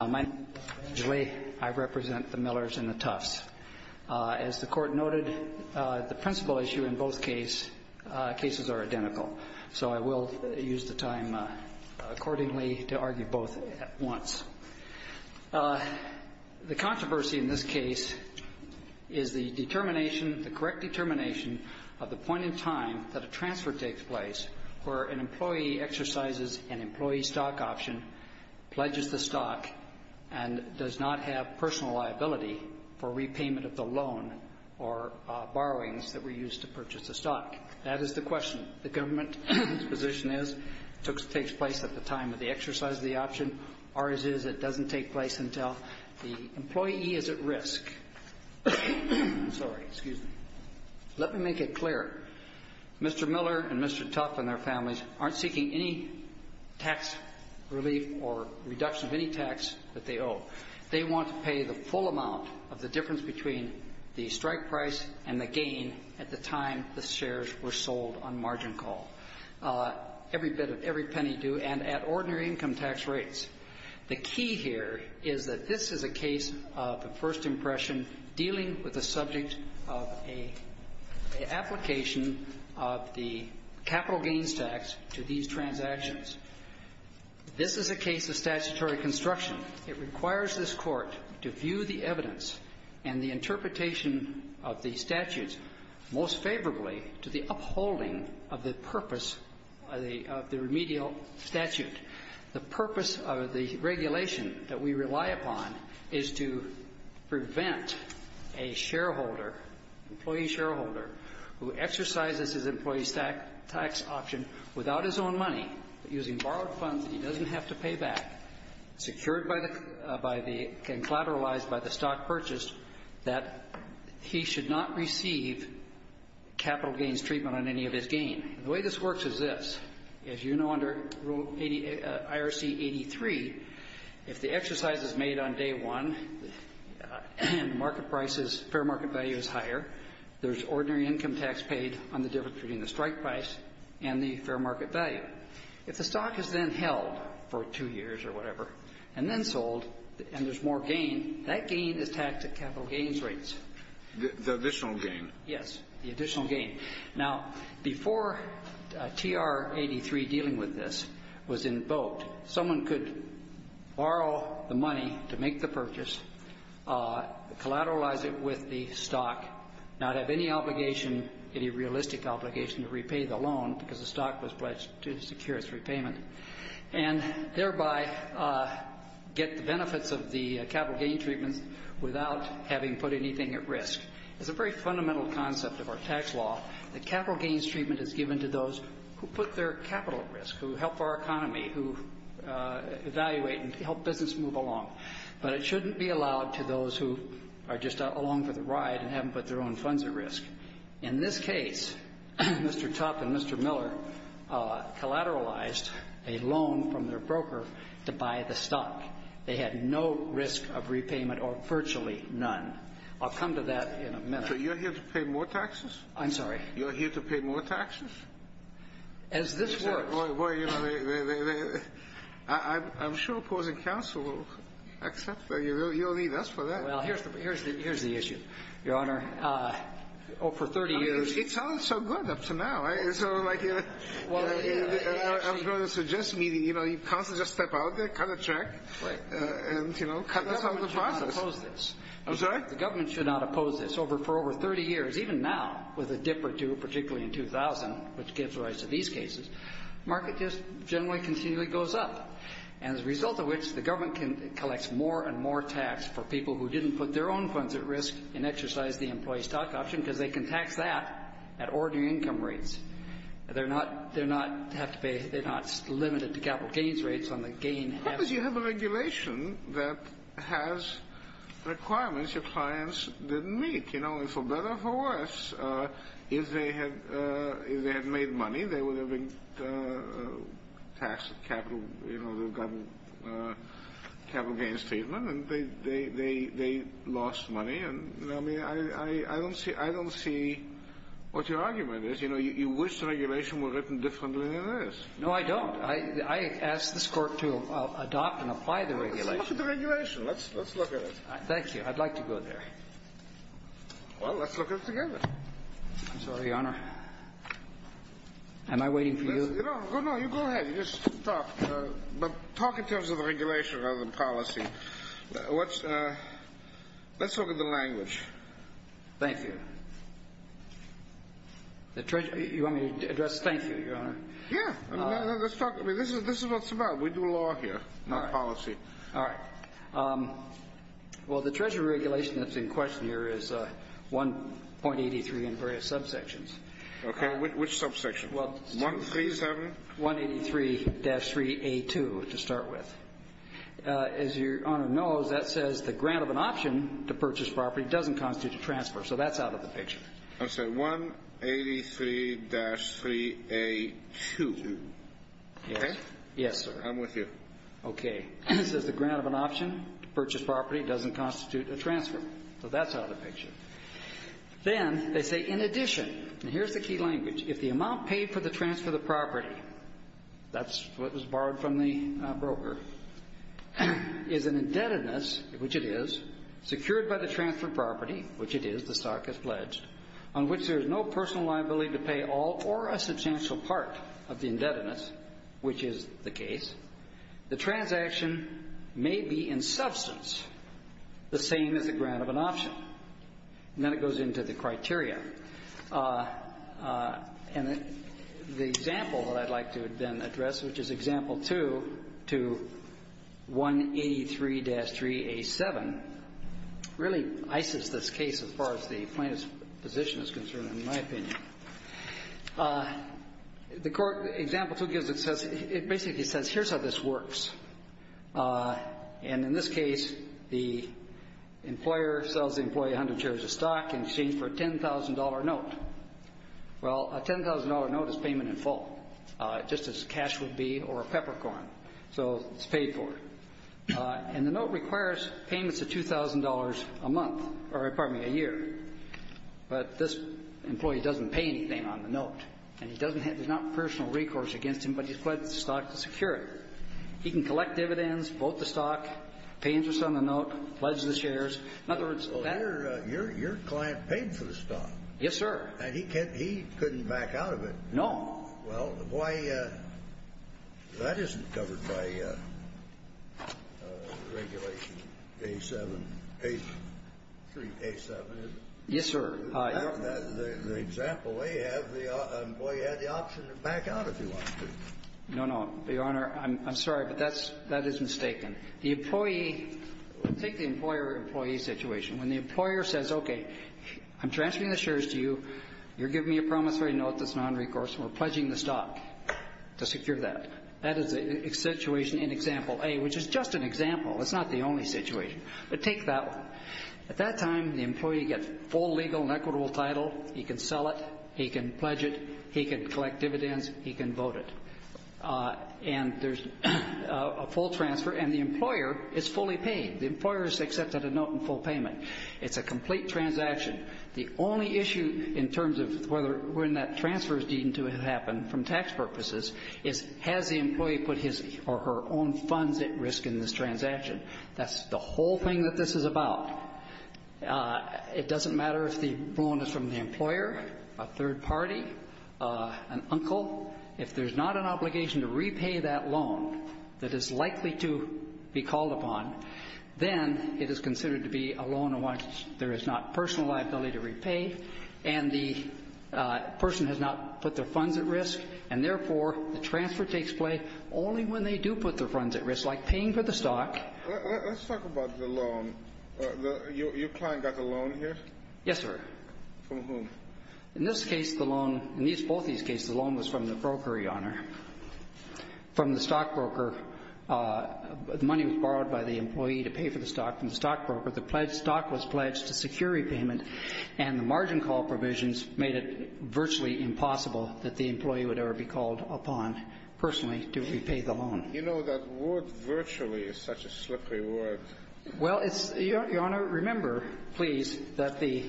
I represent the Millers and the Tuffs. As the Court noted, the principle issue in both cases are identical. So I will use the time accordingly to argue both at once. The controversy in this case is the correct determination of the point in time that a transfer takes place where an employee exercises an employee stock option, pledges the stock, and does not have personal liability for repayment of the loan or borrowings that were used to purchase the stock. That is the question. The government's position is it takes place at the time of the exercise of the option. Ours is it doesn't take place until the employee is at risk. Let me make it clear. Mr. Miller and Mr. Tuff and their families aren't seeking any tax relief or reduction of any tax that they owe. They want to pay the full amount of the difference between the strike price and the gain at the time the shares were sold on margin call. Every penny due and at ordinary income tax rates. The key here is that this is a case of the first impression dealing with the subject of an application of the capital gains tax to these transactions. This is a case of statutory construction. It requires this Court to view the evidence and the interpretation of the statutes most favorably to the upholding of the purpose of the remedial statute. The purpose of the regulation that we rely upon is to prevent a shareholder, employee shareholder, who exercises his employee's tax option without his own money, using borrowed funds that he doesn't have to pay back, secured and collateralized by the stock purchased, that he should not receive capital gains treatment on any of his gain. And the way this works is this. As you know under rule 80 IRC 83, if the exercise is made on day one, market prices, fair market value is higher. There's ordinary income tax paid on the difference between the strike price and the fair market value. If the stock is then held for two years or whatever and then sold and there's more gain, that gain is taxed at capital gains rates. The additional gain. Yes, the additional gain. Now, before TR 83 dealing with this was invoked, someone could borrow the money to make the purchase, collateralize it with the stock, not have any obligation, any realistic obligation to repay the loan because the stock was pledged to secure its repayment, and thereby get the benefits of the capital gain treatment without having put anything at risk. It's a very fundamental concept of our tax law that capital gains treatment is given to those who put their capital at risk, who help our economy, who evaluate and help business move along. But it shouldn't be allowed to those who are just along for the ride and haven't put their own funds at risk. In this case, Mr. Tuff and Mr. Miller collateralized a loan from their broker to buy the stock. They had no risk of repayment or virtually none. I'll come to that in a minute. So you're here to pay more taxes? I'm sorry? You're here to pay more taxes? As this works. Well, you know, I'm sure opposing counsel will accept that. You don't need us for that. Well, here's the issue, Your Honor. For 30 years. It sounded so good up to now. I was going to suggest to me that counsel just step out there, cut a check and, you know, cut this out of the process. I don't want you to oppose this. I'm sorry? The government should not oppose this. For over 30 years, even now, with a dip or two, particularly in 2000, which gives rise to these cases, the market just generally continually goes up. And as a result of which, the government can collect more and more tax for people who didn't put their own funds at risk and exercised the employee stock option, because they can tax that at ordinary income rates. They're not limited to capital gains rates on the gain. Because you have a regulation that has requirements your clients didn't meet. You know, and for better or for worse, if they had made money, they would have been taxed capital, you know, they've gotten capital gains treatment, and they lost money. And, I mean, I don't see what your argument is. You know, you wish the regulation were written differently than it is. No, I don't. I ask this Court to adopt and apply the regulation. Let's look at the regulation. Let's look at it. Thank you. I'd like to go there. Well, let's look at it together. I'm sorry, Your Honor. Am I waiting for you? No, you go ahead. You just talk. But talk in terms of regulation rather than policy. Let's look at the language. Thank you. You want me to address thank you, Your Honor? Yeah. Let's talk. I mean, this is what it's about. We do law here, not policy. All right. Well, the Treasury regulation that's in question here is 1.83 in various subsections. Okay. Which subsection? 137? 183-3A2 to start with. As Your Honor knows, that says the grant of an option to purchase property doesn't constitute a transfer, so that's out of the picture. I'm sorry, 183-3A2. Yes. Yes, sir. I'm with you. Okay. It says the grant of an option to purchase property doesn't constitute a transfer, so that's out of the picture. Then they say, in addition, and here's the key language, if the amount paid for the transfer of the property, that's what was borrowed from the broker, is an indebtedness, which it is, secured by the transfer of property, which it is, the stock is pledged, on which there is no personal liability to pay all or a substantial part of the indebtedness, which is the case, the transaction may be in substance the same as the grant of an option. And then it goes into the criteria. And the example that I'd like to then address, which is Example 2 to 183-3A7, really ices this case as far as the plaintiff's position is concerned, in my opinion. The court, Example 2 gives it, says, it basically says, here's how this works. And in this case, the employer sells the employee 100 shares of stock in exchange for a $10,000 note. Well, a $10,000 note is payment in full, just as cash would be or a peppercorn. So it's paid for. And the note requires payments of $2,000 a month or, pardon me, a year. But this employee doesn't pay anything on the note. And he doesn't have any personal recourse against him, but he pledges the stock to security. He can collect dividends, vote the stock, pay interest on the note, pledge the shares. In other words, that's the case. Well, your client paid for the stock. Yes, sir. And he couldn't back out of it. No. Well, why, that isn't covered by Regulation A7, 183-A7, is it? Yes, sir. The example they have, the employee had the option to back out if he wanted to. No, no. Your Honor, I'm sorry, but that is mistaken. The employee – take the employer-employee situation. When the employer says, okay, I'm transferring the shares to you, you're giving me a promise-free note that's nonrecourse, and we're pledging the stock to secure that. That is a situation in Example A, which is just an example. It's not the only situation. But take that one. At that time, the employee gets full legal and equitable title. He can sell it. He can pledge it. He can collect dividends. He can vote it. And there's a full transfer, and the employer is fully paid. The employer has accepted a note in full payment. It's a complete transaction. The only issue in terms of whether or not transfers need to happen from tax purposes is, has the employee put his or her own funds at risk in this transaction? That's the whole thing that this is about. It doesn't matter if the loan is from the employer, a third party, an uncle. If there's not an obligation to repay that loan that is likely to be called upon, then it is considered to be a loan in which there is not personal liability to repay, and the person has not put their funds at risk, and, therefore, the transfer takes place only when they do put their funds at risk, like paying for the stock. Let's talk about the loan. Your client got the loan here? Yes, sir. From whom? In this case, the loan, in both these cases, the loan was from the broker, Your Honor. From the stockbroker, the money was borrowed by the employee to pay for the stock. From the stockbroker, the stock was pledged to secure repayment, and the margin call provisions made it virtually impossible that the employee would ever be called upon personally to repay the loan. You know, that word virtually is such a slippery word. Well, it's – Your Honor, remember, please, that the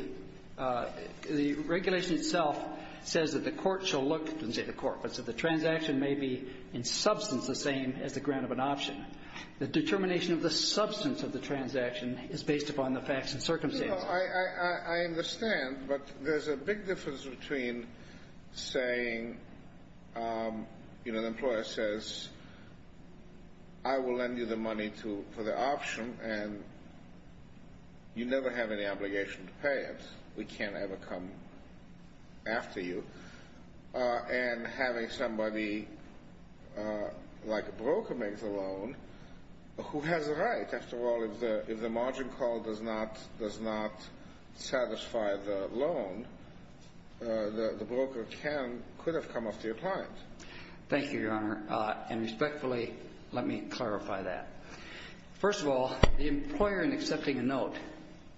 regulation itself says that the court shall look – I didn't say the court, but that the transaction may be in substance the same as the grant of an option. The determination of the substance of the transaction is based upon the facts and circumstances. Well, I understand, but there's a big difference between saying, you know, the employer says, I will lend you the money for the option, and you never have any obligation to pay it. We can't ever come after you. And having somebody like a broker make the loan, who has a right, after all, if the margin call does not satisfy the loan, the broker can – could have come after your client. Thank you, Your Honor. And respectfully, let me clarify that. First of all, the employer in accepting a note,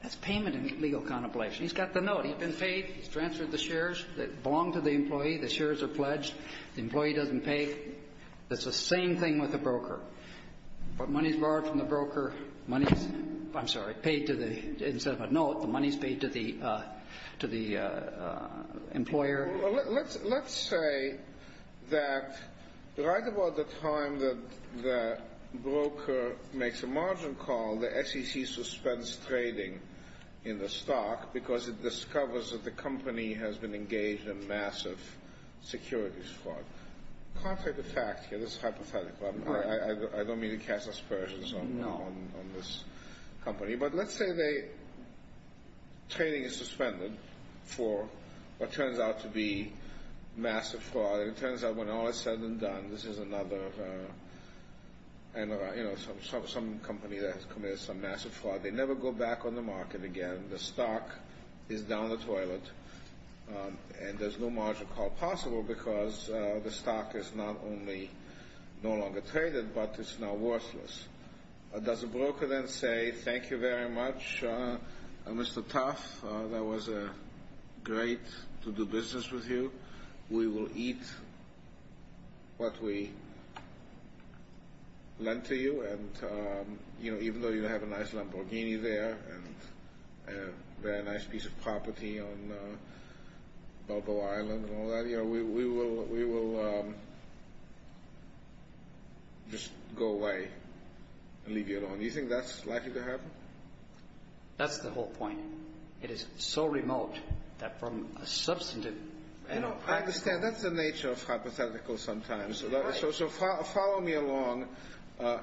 that's payment in legal contemplation. He's got the note. He's been paid. He's transferred the shares that belong to the employee. The shares are pledged. The employee doesn't pay. It's the same thing with a broker. But money is borrowed from the broker. Money is – I'm sorry, paid to the – instead of a note, the money is paid to the – to the employer. Well, let's say that right about the time that the broker makes a margin call, the SEC suspends trading in the stock because it discovers that the company has been engaged in massive securities fraud. Contrary to fact here, this is hypothetical. I don't mean to cast aspersions on this company. But let's say they – trading is suspended for what turns out to be massive fraud. And it turns out when all is said and done, this is another – you know, some company that has committed some massive fraud. They never go back on the market again. The stock is down the toilet. And there's no margin call possible because the stock is not only no longer traded, but it's now worthless. Does the broker then say, thank you very much, Mr. Tuff. That was great to do business with you. We will eat what we lend to you. And, you know, even though you have a nice Lamborghini there and a very nice piece of property on Balboa Island and all that, we will just go away and leave you alone. Do you think that's likely to happen? That's the whole point. It is so remote that from a substantive – I understand. That's the nature of hypotheticals sometimes. So follow me along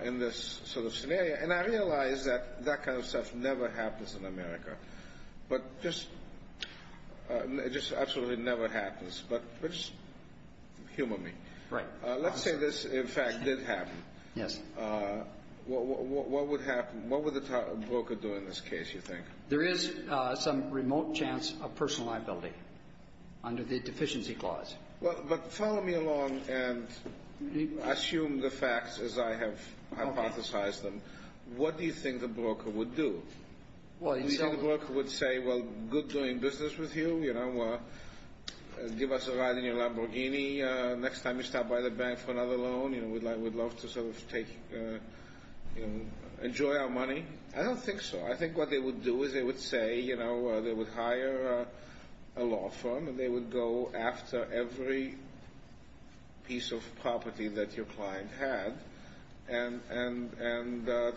in this sort of scenario. And I realize that that kind of stuff never happens in America, but just absolutely never happens. But just humor me. Right. Let's say this, in fact, did happen. Yes. What would happen? What would the broker do in this case, you think? There is some remote chance of personal liability under the deficiency clause. But follow me along and assume the facts as I have hypothesized them. What do you think the broker would do? Do you think the broker would say, well, good doing business with you, give us a ride in your Lamborghini next time you stop by the bank for another loan. We'd love to sort of enjoy our money. I don't think so. I think what they would do is they would say they would hire a law firm and they would go after every piece of property that your client had and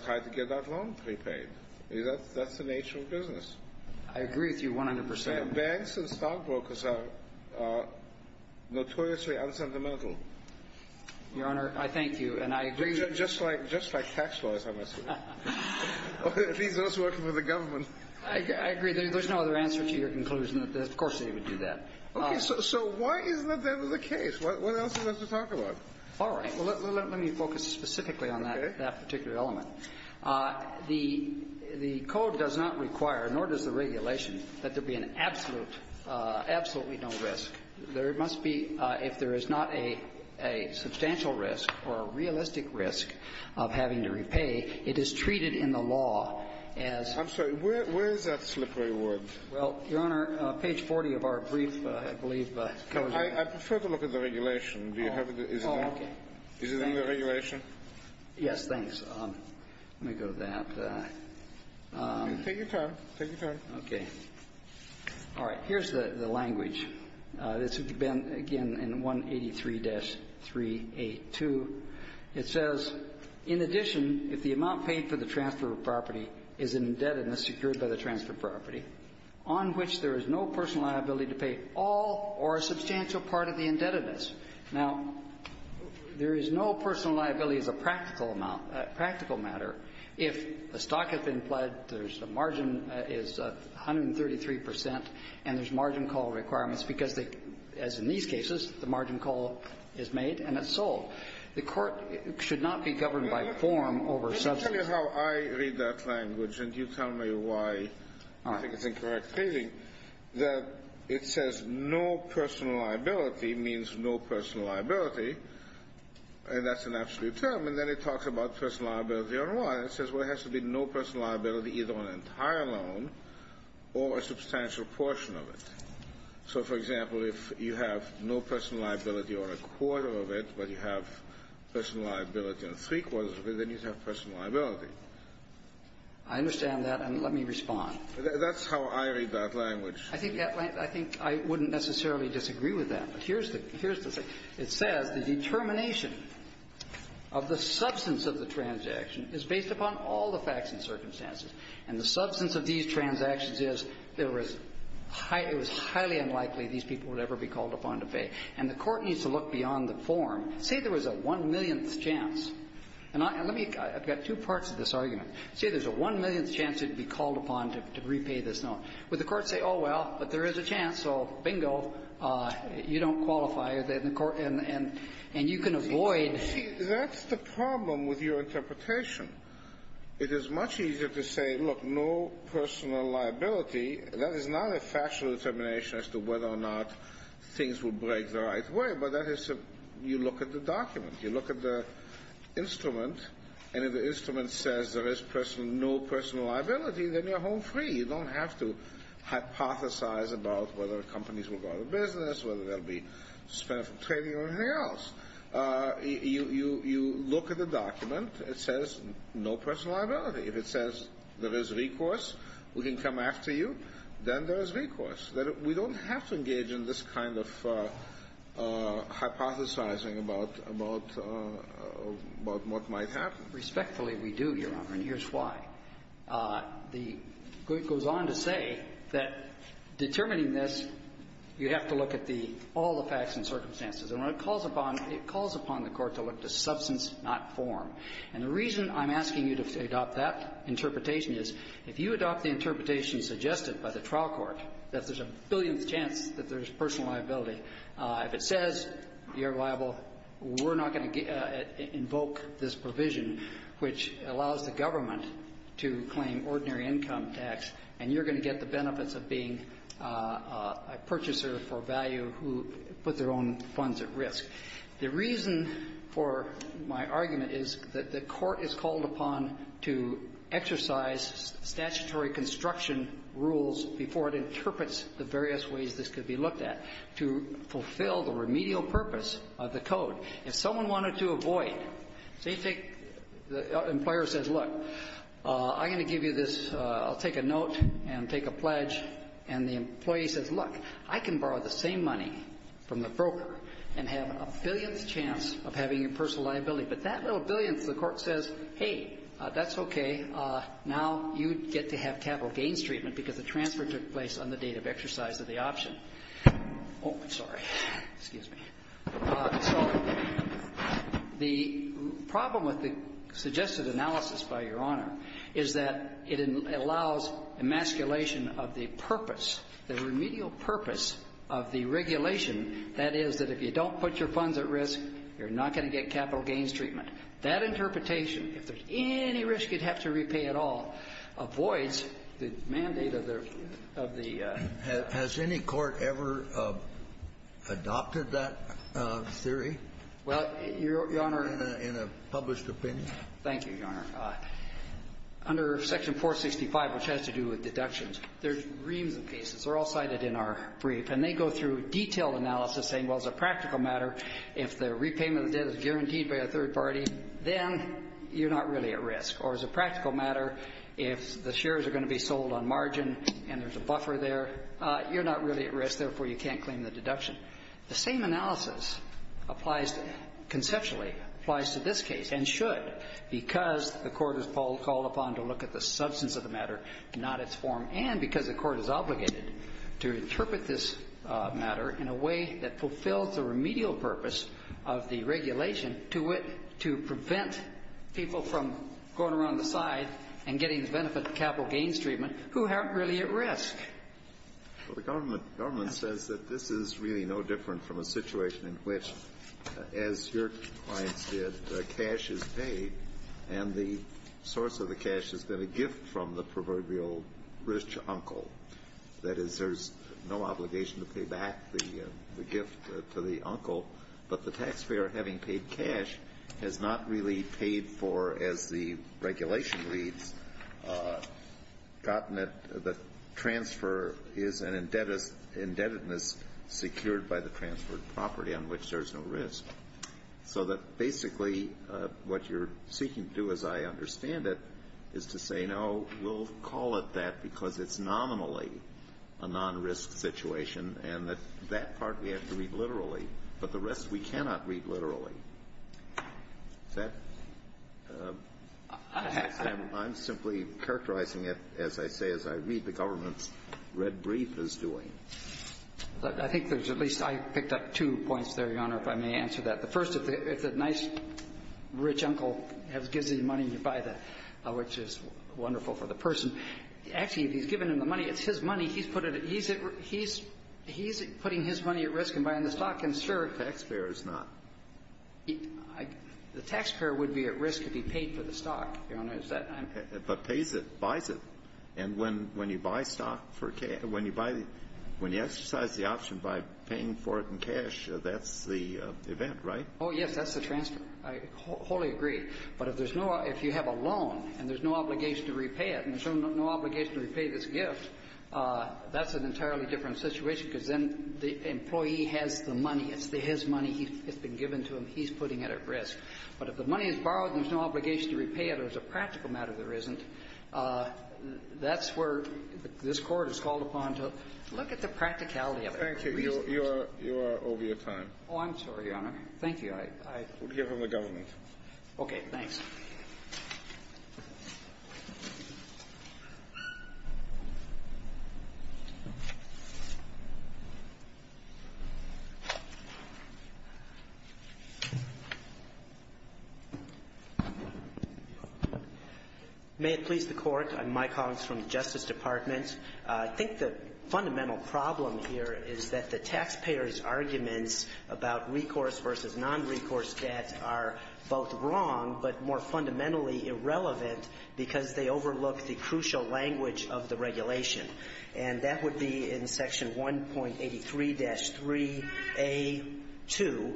try to get that loan prepaid. That's the nature of business. I agree with you 100%. Banks and stockbrokers are notoriously unsentimental. Your Honor, I thank you, and I agree with you. Just like tax lawyers, I must say. Or at least those working for the government. I agree. There's no other answer to your conclusion. Of course they would do that. Okay. So why isn't that the case? What else is there to talk about? All right. Well, let me focus specifically on that particular element. The code does not require, nor does the regulation, that there be an absolute no risk. There must be, if there is not a substantial risk or a realistic risk of having to repay, it is treated in the law as I'm sorry. Where is that slippery wood? Well, Your Honor, page 40 of our brief, I believe. I prefer to look at the regulation. Oh, okay. Is it in the regulation? Yes, thanks. Let me go to that. Take your time. Take your time. Okay. All right. Here's the language. This would have been, again, in 183-382. It says, In addition, if the amount paid for the transfer of property is an indebtedness secured by the transfer of property, on which there is no personal liability to pay all or a substantial part of the indebtedness. Now, there is no personal liability as a practical amount, practical matter, if the stock has been pledged, there's a margin that is 133 percent, and there's margin call requirements because they, as in these cases, the margin call is made and it's sold. The court should not be governed by form over subsidies. Let me tell you how I read that language, and you tell me why I think it's incorrect reading, that it says, No personal liability means no personal liability, and that's an absolute term. And then it talks about personal liability and why. It says, Well, it has to be no personal liability either on an entire loan or a substantial portion of it. So, for example, if you have no personal liability on a quarter of it, but you have personal liability on three quarters of it, then you'd have personal liability. I understand that, and let me respond. That's how I read that language. I think that language, I think I wouldn't necessarily disagree with that. But here's the thing. It says, The determination of the substance of the transaction is based upon all the facts and circumstances. And the substance of these transactions is it was highly unlikely these people would ever be called upon to pay. And the Court needs to look beyond the form. Say there was a one-millionth chance. And let me – I've got two parts to this argument. Say there's a one-millionth chance you'd be called upon to repay this loan. Would the Court say, oh, well, but there is a chance, so bingo, you don't qualify, and the Court – and you can avoid – That's the problem with your interpretation. It is much easier to say, look, no personal liability. That is not a factual determination as to whether or not things will break the right way. But that is – you look at the document. You look at the instrument, and if the instrument says there is no personal liability, then you're home free. You don't have to hypothesize about whether companies will go out of business, whether they'll be suspended from trading or anything else. You look at the document. It says no personal liability. If it says there is recourse, we can come after you, then there is recourse. We don't have to engage in this kind of hypothesizing about what might happen. Respectfully, we do, Your Honor, and here's why. The – it goes on to say that determining this, you have to look at the – all the facts and circumstances. And when it calls upon – it calls upon the court to look to substance, not form. And the reason I'm asking you to adopt that interpretation is if you adopt the interpretation suggested by the trial court that there's a billionth chance that there's personal liability, if it says you're liable, we're not going to invoke this provision, which allows the government to claim ordinary income tax, and you're going to get the benefits of being a purchaser for value who put their own funds at risk. The reason for my argument is that the court is called upon to exercise statutory construction rules before it interprets the various ways this could be looked at to fulfill the remedial purpose of the code. If someone wanted to avoid – say you take – the employer says, look, I'm going to give you this. I'll take a note and take a pledge. And the employee says, look, I can borrow the same money from the broker and have a billionth chance of having a personal liability. But that little billionth, the court says, hey, that's okay. Now you get to have capital gains treatment because the transfer took place on the date of exercise of the option. Oh, I'm sorry. Excuse me. So the problem with the suggested analysis, by Your Honor, is that it allows emasculation of the purpose, the remedial purpose of the regulation, that is, that if you don't put your funds at risk, you're not going to get capital gains treatment. That interpretation, if there's any risk you'd have to repay at all, avoids the mandate of the – adopted that theory? Well, Your Honor – In a published opinion? Thank you, Your Honor. Under Section 465, which has to do with deductions, there's reams and pieces. They're all cited in our brief. And they go through detailed analysis saying, well, as a practical matter, if the repayment of the debt is guaranteed by a third party, then you're not really at risk. Or as a practical matter, if the shares are going to be sold on margin and there's a buffer there, you're not really at risk. Therefore, you can't claim the deduction. The same analysis applies – conceptually applies to this case, and should, because the Court is called upon to look at the substance of the matter, not its form, and because the Court is obligated to interpret this matter in a way that fulfills the remedial purpose of the regulation to prevent people from going around the side and getting benefit capital gains treatment who aren't really at risk. Well, the government says that this is really no different from a situation in which, as your clients did, cash is paid and the source of the cash is then a gift from the proverbial rich uncle. That is, there's no obligation to pay back the gift to the uncle, but the taxpayer, having paid cash, has not really paid for, as the regulation reads, gotten it – the transfer is an indebtedness secured by the transferred property on which there's no risk. So that basically what you're seeking to do, as I understand it, is to say, no, we'll call it that because it's nominally a non-risk situation, and that that part we have to read thoroughly. Is that – I'm simply characterizing it, as I say, as I read the government's red brief is doing. I think there's at least – I picked up two points there, Your Honor, if I may answer that. The first, if the nice rich uncle gives you money and you buy the – which is wonderful for the person. Actually, if he's given him the money, it's his money. He's put it – he's putting his money at risk in buying the stock, and, sir – The taxpayer is not. The taxpayer would be at risk if he paid for the stock, Your Honor. Is that – But pays it, buys it. And when you buy stock for – when you buy – when you exercise the option by paying for it in cash, that's the event, right? Oh, yes. That's the transfer. I wholly agree. But if there's no – if you have a loan and there's no obligation to repay it, and there's no obligation to repay this gift, that's an entirely different situation because then the employee has the money. It's his money. It's been given to him. He's putting it at risk. But if the money is borrowed and there's no obligation to repay it or there's a practical matter there isn't, that's where this Court is called upon to look at the practicality of it. Thank you. You are – you are over your time. Oh, I'm sorry, Your Honor. Thank you. I – I – We'll give him the government. Okay. Thanks. May it please the Court. I'm Mike Hoggs from the Justice Department. I think the fundamental problem here is that the taxpayers' arguments about recourse versus nonrecourse debt are both wrong but more fundamentally irrelevant because they overlook the crucial language of the regulation. And that would be in Section 1.83-3A2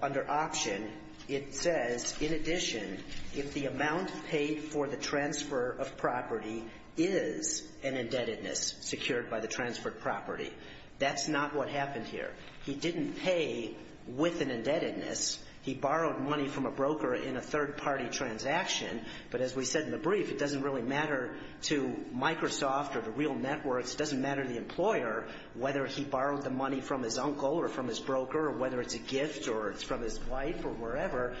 under option. It says, in addition, if the amount paid for the transfer of property is an indebtedness secured by the transferred property, that's not what happened here. He didn't pay with an indebtedness. He borrowed money from a broker in a third-party transaction. But as we said in the brief, it doesn't really matter to Microsoft or the real networks. It doesn't matter to the employer whether he borrowed the money from his uncle or from his broker or whether it's a gift or it's from his wife or wherever.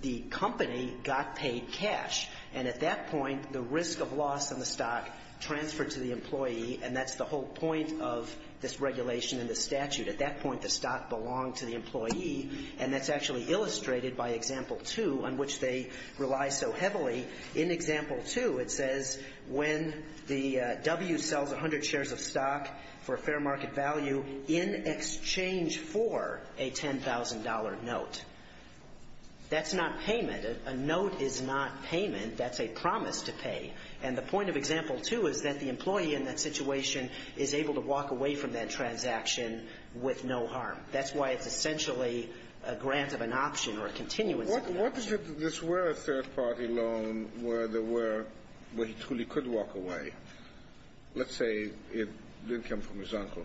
The company got paid cash. And at that point, the risk of loss in the stock transferred to the employee, and that's the whole point of this regulation and this statute. At that point, the stock belonged to the employee. And that's actually illustrated by Example 2, on which they rely so heavily. In Example 2, it says when the W sells 100 shares of stock for a fair market value in exchange for a $10,000 note, that's not payment. A note is not payment. That's a promise to pay. And the point of Example 2 is that the employee in that situation is able to walk away from that transaction with no harm. That's why it's essentially a grant of an option or a continuance of an option. What if this were a third-party loan where he truly could walk away? Let's say it didn't come from his uncle.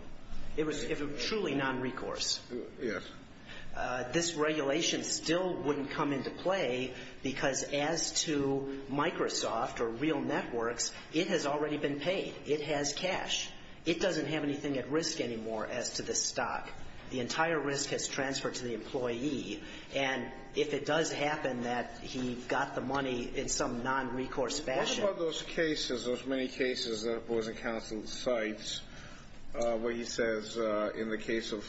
It was truly nonrecourse. Yes. This regulation still wouldn't come into play because as to Microsoft or real networks, it has already been paid. It has cash. It doesn't have anything at risk anymore as to the stock. The entire risk has transferred to the employee. And if it does happen that he got the money in some nonrecourse fashion. What about those cases, those many cases that the Board of Counsel cites where he says in the case of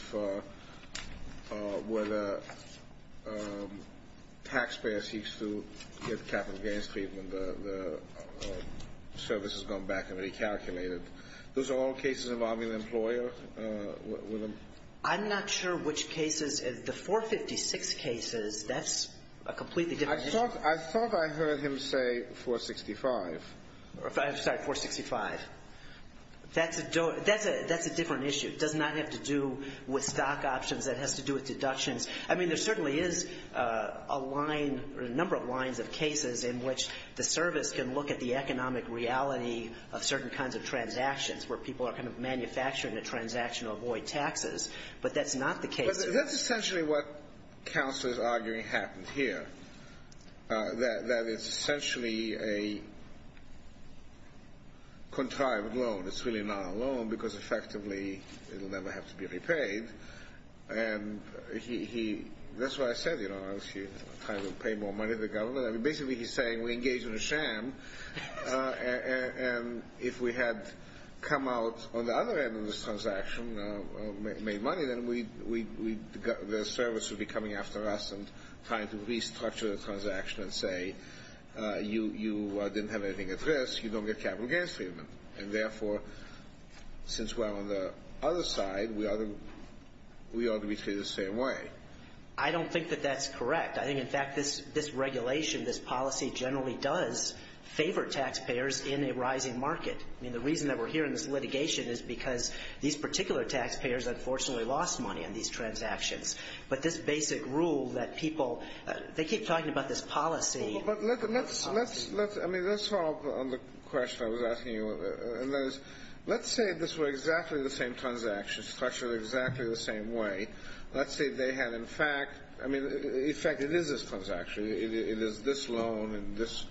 where the taxpayer seeks to get capital gains treatment, the service has gone back and recalculated? Those are all cases involving the employer? I'm not sure which cases. I thought I heard him say 465. I'm sorry, 465. That's a different issue. It does not have to do with stock options. It has to do with deductions. I mean, there certainly is a line or a number of lines of cases in which the service can look at the economic reality of certain kinds of transactions where people are kind of manufacturing a transaction to avoid taxes. But that's not the case. That's essentially what counsel is arguing happened here. That it's essentially a contrived loan. It's really not a loan because effectively it will never have to be repaid. And that's what I said, you know, I'm trying to pay more money to the government. I mean, basically he's saying we engaged in a sham. And if we had come out on the other end of this transaction, made money, then the service would be coming after us and trying to restructure the transaction and say you didn't have anything at risk, you don't get capital gains treatment. And, therefore, since we're on the other side, we ought to be treated the same way. I don't think that that's correct. I think, in fact, this regulation, this policy generally does favor taxpayers in a rising market. I mean, the reason that we're here in this litigation is because these particular taxpayers unfortunately lost money on these transactions. But this basic rule that people, they keep talking about this policy. But let's follow up on the question I was asking you. Let's say this were exactly the same transaction, structured exactly the same way. Let's say they had, in fact, I mean, in fact, it is this transaction. It is this loan and this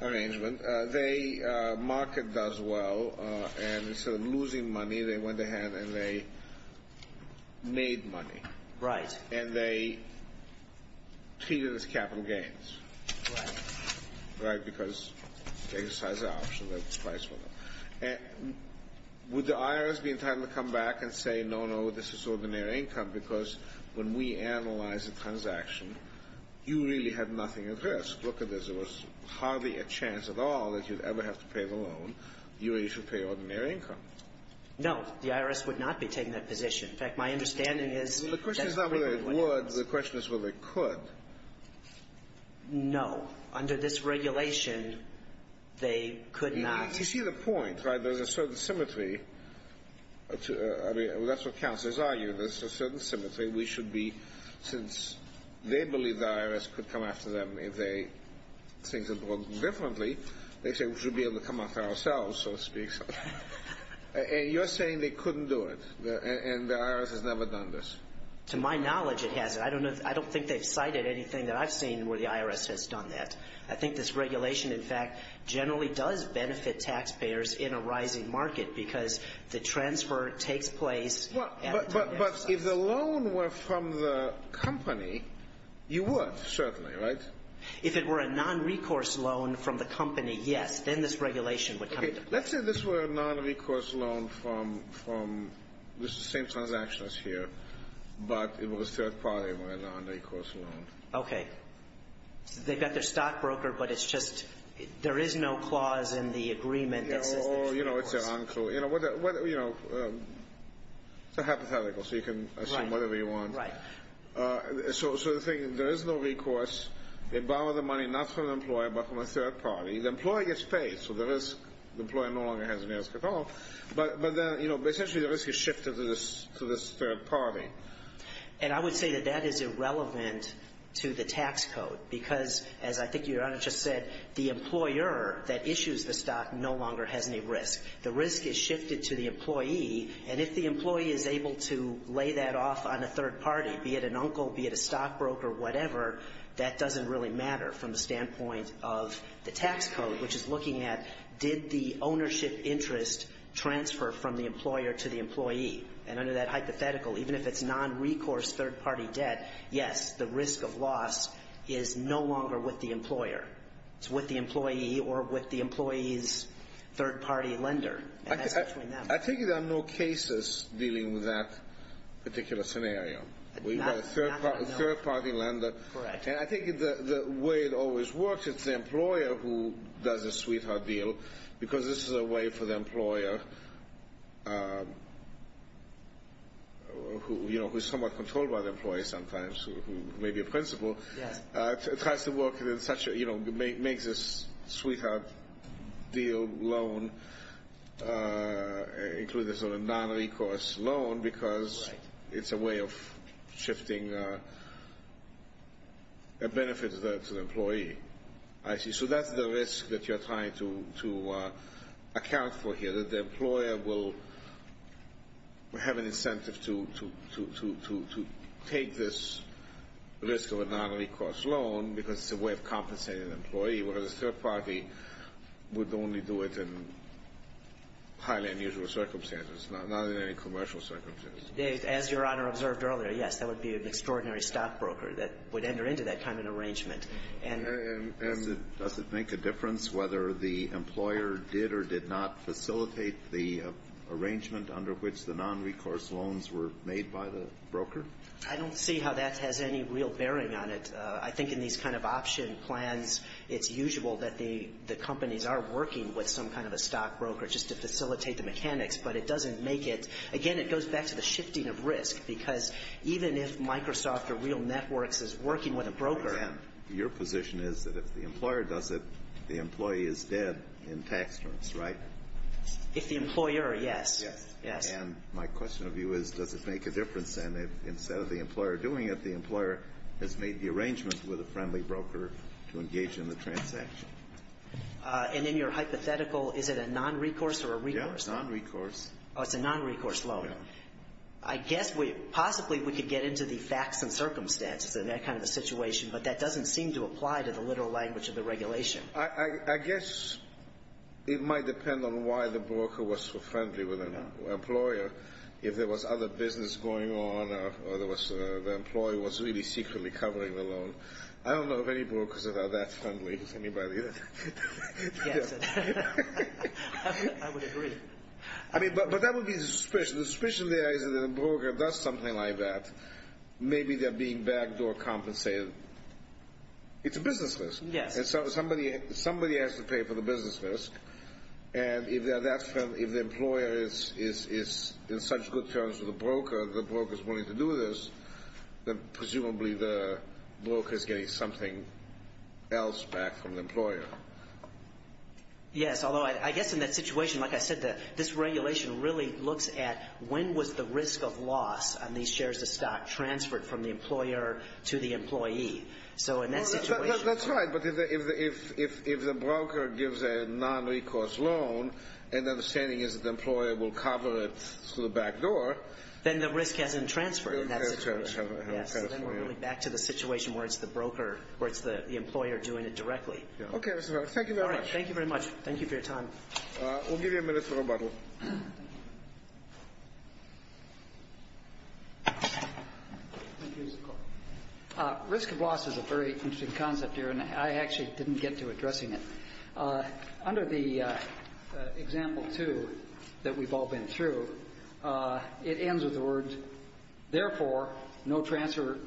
arrangement. The market does well. And instead of losing money, they went ahead and they made money. Right. And they treated it as capital gains. Right. Right, because they exercised the option that was priced for them. And would the IRS be entitled to come back and say, no, no, this is ordinary income, because when we analyze the transaction, you really had nothing at risk. Look at this. There was hardly a chance at all that you'd ever have to pay the loan. You really should pay ordinary income. No. The IRS would not be taking that position. In fact, my understanding is that's what people would do. The question is not whether it would. The question is whether it could. No. Under this regulation, they could not. You see the point, right? There's a certain symmetry. That's what counselors argue. There's a certain symmetry. We should be, since they believe the IRS could come after them if they think differently, they should be able to come after ourselves, so to speak. And you're saying they couldn't do it and the IRS has never done this. To my knowledge, it hasn't. I don't think they've cited anything that I've seen where the IRS has done that. Because the transfer takes place. But if the loan were from the company, you would, certainly, right? If it were a non-recourse loan from the company, yes. Then this regulation would come into play. Let's say this were a non-recourse loan from the same transaction as here, but it was a third-party non-recourse loan. Okay. They've got their stockbroker, but it's just there is no clause in the agreement that says there's no recourse. It's hypothetical, so you can assume whatever you want. Right. So the thing, there is no recourse. They borrow the money not from the employer, but from a third-party. The employer gets paid, so the risk, the employer no longer has an ask at all. But then, essentially, the risk is shifted to this third-party. And I would say that that is irrelevant to the tax code because, as I think Your Honor just said, the employer that issues the stock no longer has any risk. The risk is shifted to the employee, and if the employee is able to lay that off on a third-party, be it an uncle, be it a stockbroker, whatever, that doesn't really matter from the standpoint of the tax code, which is looking at did the ownership interest transfer from the employer to the employee. And under that hypothetical, even if it's non-recourse third-party debt, yes, the risk of loss is no longer with the employer. It's with the employee or with the employee's third-party lender. And that's between them. I think there are no cases dealing with that particular scenario. We've got a third-party lender. Correct. And I think the way it always works, it's the employer who does the sweetheart deal because this is a way for the employer, who is somewhat controlled by the tax code, maybe a principal, tries to work in such a, you know, makes a sweetheart deal loan, including a sort of non-recourse loan because it's a way of shifting a benefit to the employee. I see. So that's the risk that you're trying to account for here, that the employer will have an incentive to take this risk of a non-recourse loan because it's a way of compensating an employee, whereas a third-party would only do it in highly unusual circumstances, not in any commercial circumstances. As Your Honor observed earlier, yes, that would be an extraordinary stockbroker that would enter into that kind of an arrangement. And does it make a difference whether the employer did or did not facilitate the arrangement under which the non-recourse loans were made by the broker? I don't see how that has any real bearing on it. I think in these kind of option plans, it's usual that the companies are working with some kind of a stockbroker just to facilitate the mechanics, but it doesn't make it. Again, it goes back to the shifting of risk because even if Microsoft or Real Networks is working with a broker. Your position is that if the employer does it, the employee is dead in tax terms, right? If the employer, yes. Yes. And my question of you is, does it make a difference then if instead of the employer doing it, the employer has made the arrangement with a friendly broker to engage in the transaction? And in your hypothetical, is it a non-recourse or a recourse loan? Yeah, a non-recourse. Oh, it's a non-recourse loan. Yeah. I guess we – possibly we could get into the facts and circumstances in that kind of a situation, but that doesn't seem to apply to the literal language of the regulation. I guess it might depend on why the broker was so friendly with the employer. If there was other business going on or the employer was really secretly covering the loan. I don't know of any brokers that are that friendly with anybody. Yes. I would agree. I mean, but that would be the suspicion. The suspicion there is that if the broker does something like that, maybe they're being backdoor compensated. It's a business list. Yes. Somebody has to pay for the business list, and if the employer is in such good terms with the broker, the broker is willing to do this, then presumably the broker is getting something else back from the employer. Yes, although I guess in that situation, like I said, this regulation really looks at when was the risk of loss on these shares of stock transferred from the employer to the employee. So in that situation. That's right. But if the broker gives a nonrecourse loan, and the understanding is that the employer will cover it through the backdoor. Then the risk hasn't transferred in that situation. It hasn't transferred. Yes. So then we're really back to the situation where it's the broker, where it's the employer doing it directly. Yes. Okay, Mr. Harris. Thank you very much. All right. Thank you very much. Thank you for your time. We'll give you a minute for rebuttal. Thank you. Risk of loss is a very interesting concept here, and I actually didn't get to addressing it. Under the example two that we've all been through, it ends with the words, therefore, no transfer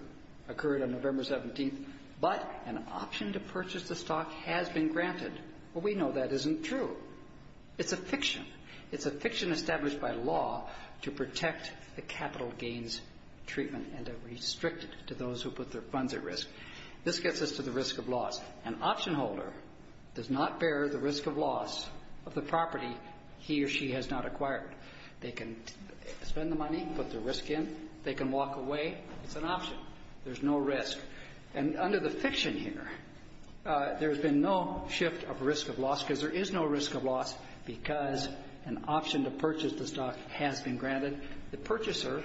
occurred on November 17th, but an option to purchase the stock has been granted. It's a fiction. It's a fiction established by law to protect the capital gains treatment and to restrict it to those who put their funds at risk. This gets us to the risk of loss. An option holder does not bear the risk of loss of the property he or she has not acquired. They can spend the money, put their risk in. They can walk away. It's an option. There's no risk. And under the fiction here, there's been no shift of risk of loss because there is an option to purchase the stock has been granted. The purchaser,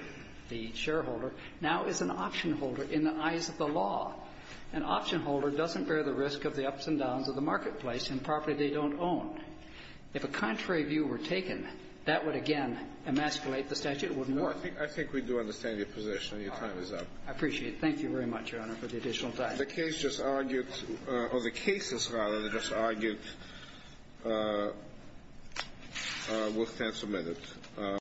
the shareholder, now is an option holder in the eyes of the law. An option holder doesn't bear the risk of the ups and downs of the marketplace and property they don't own. If a contrary view were taken, that would again emasculate the statute. It wouldn't work. I think we do understand your position. Your time is up. I appreciate it. Thank you very much, Your Honor, for the additional time. The case just argued, or the cases, rather, just argued, will stand submitted.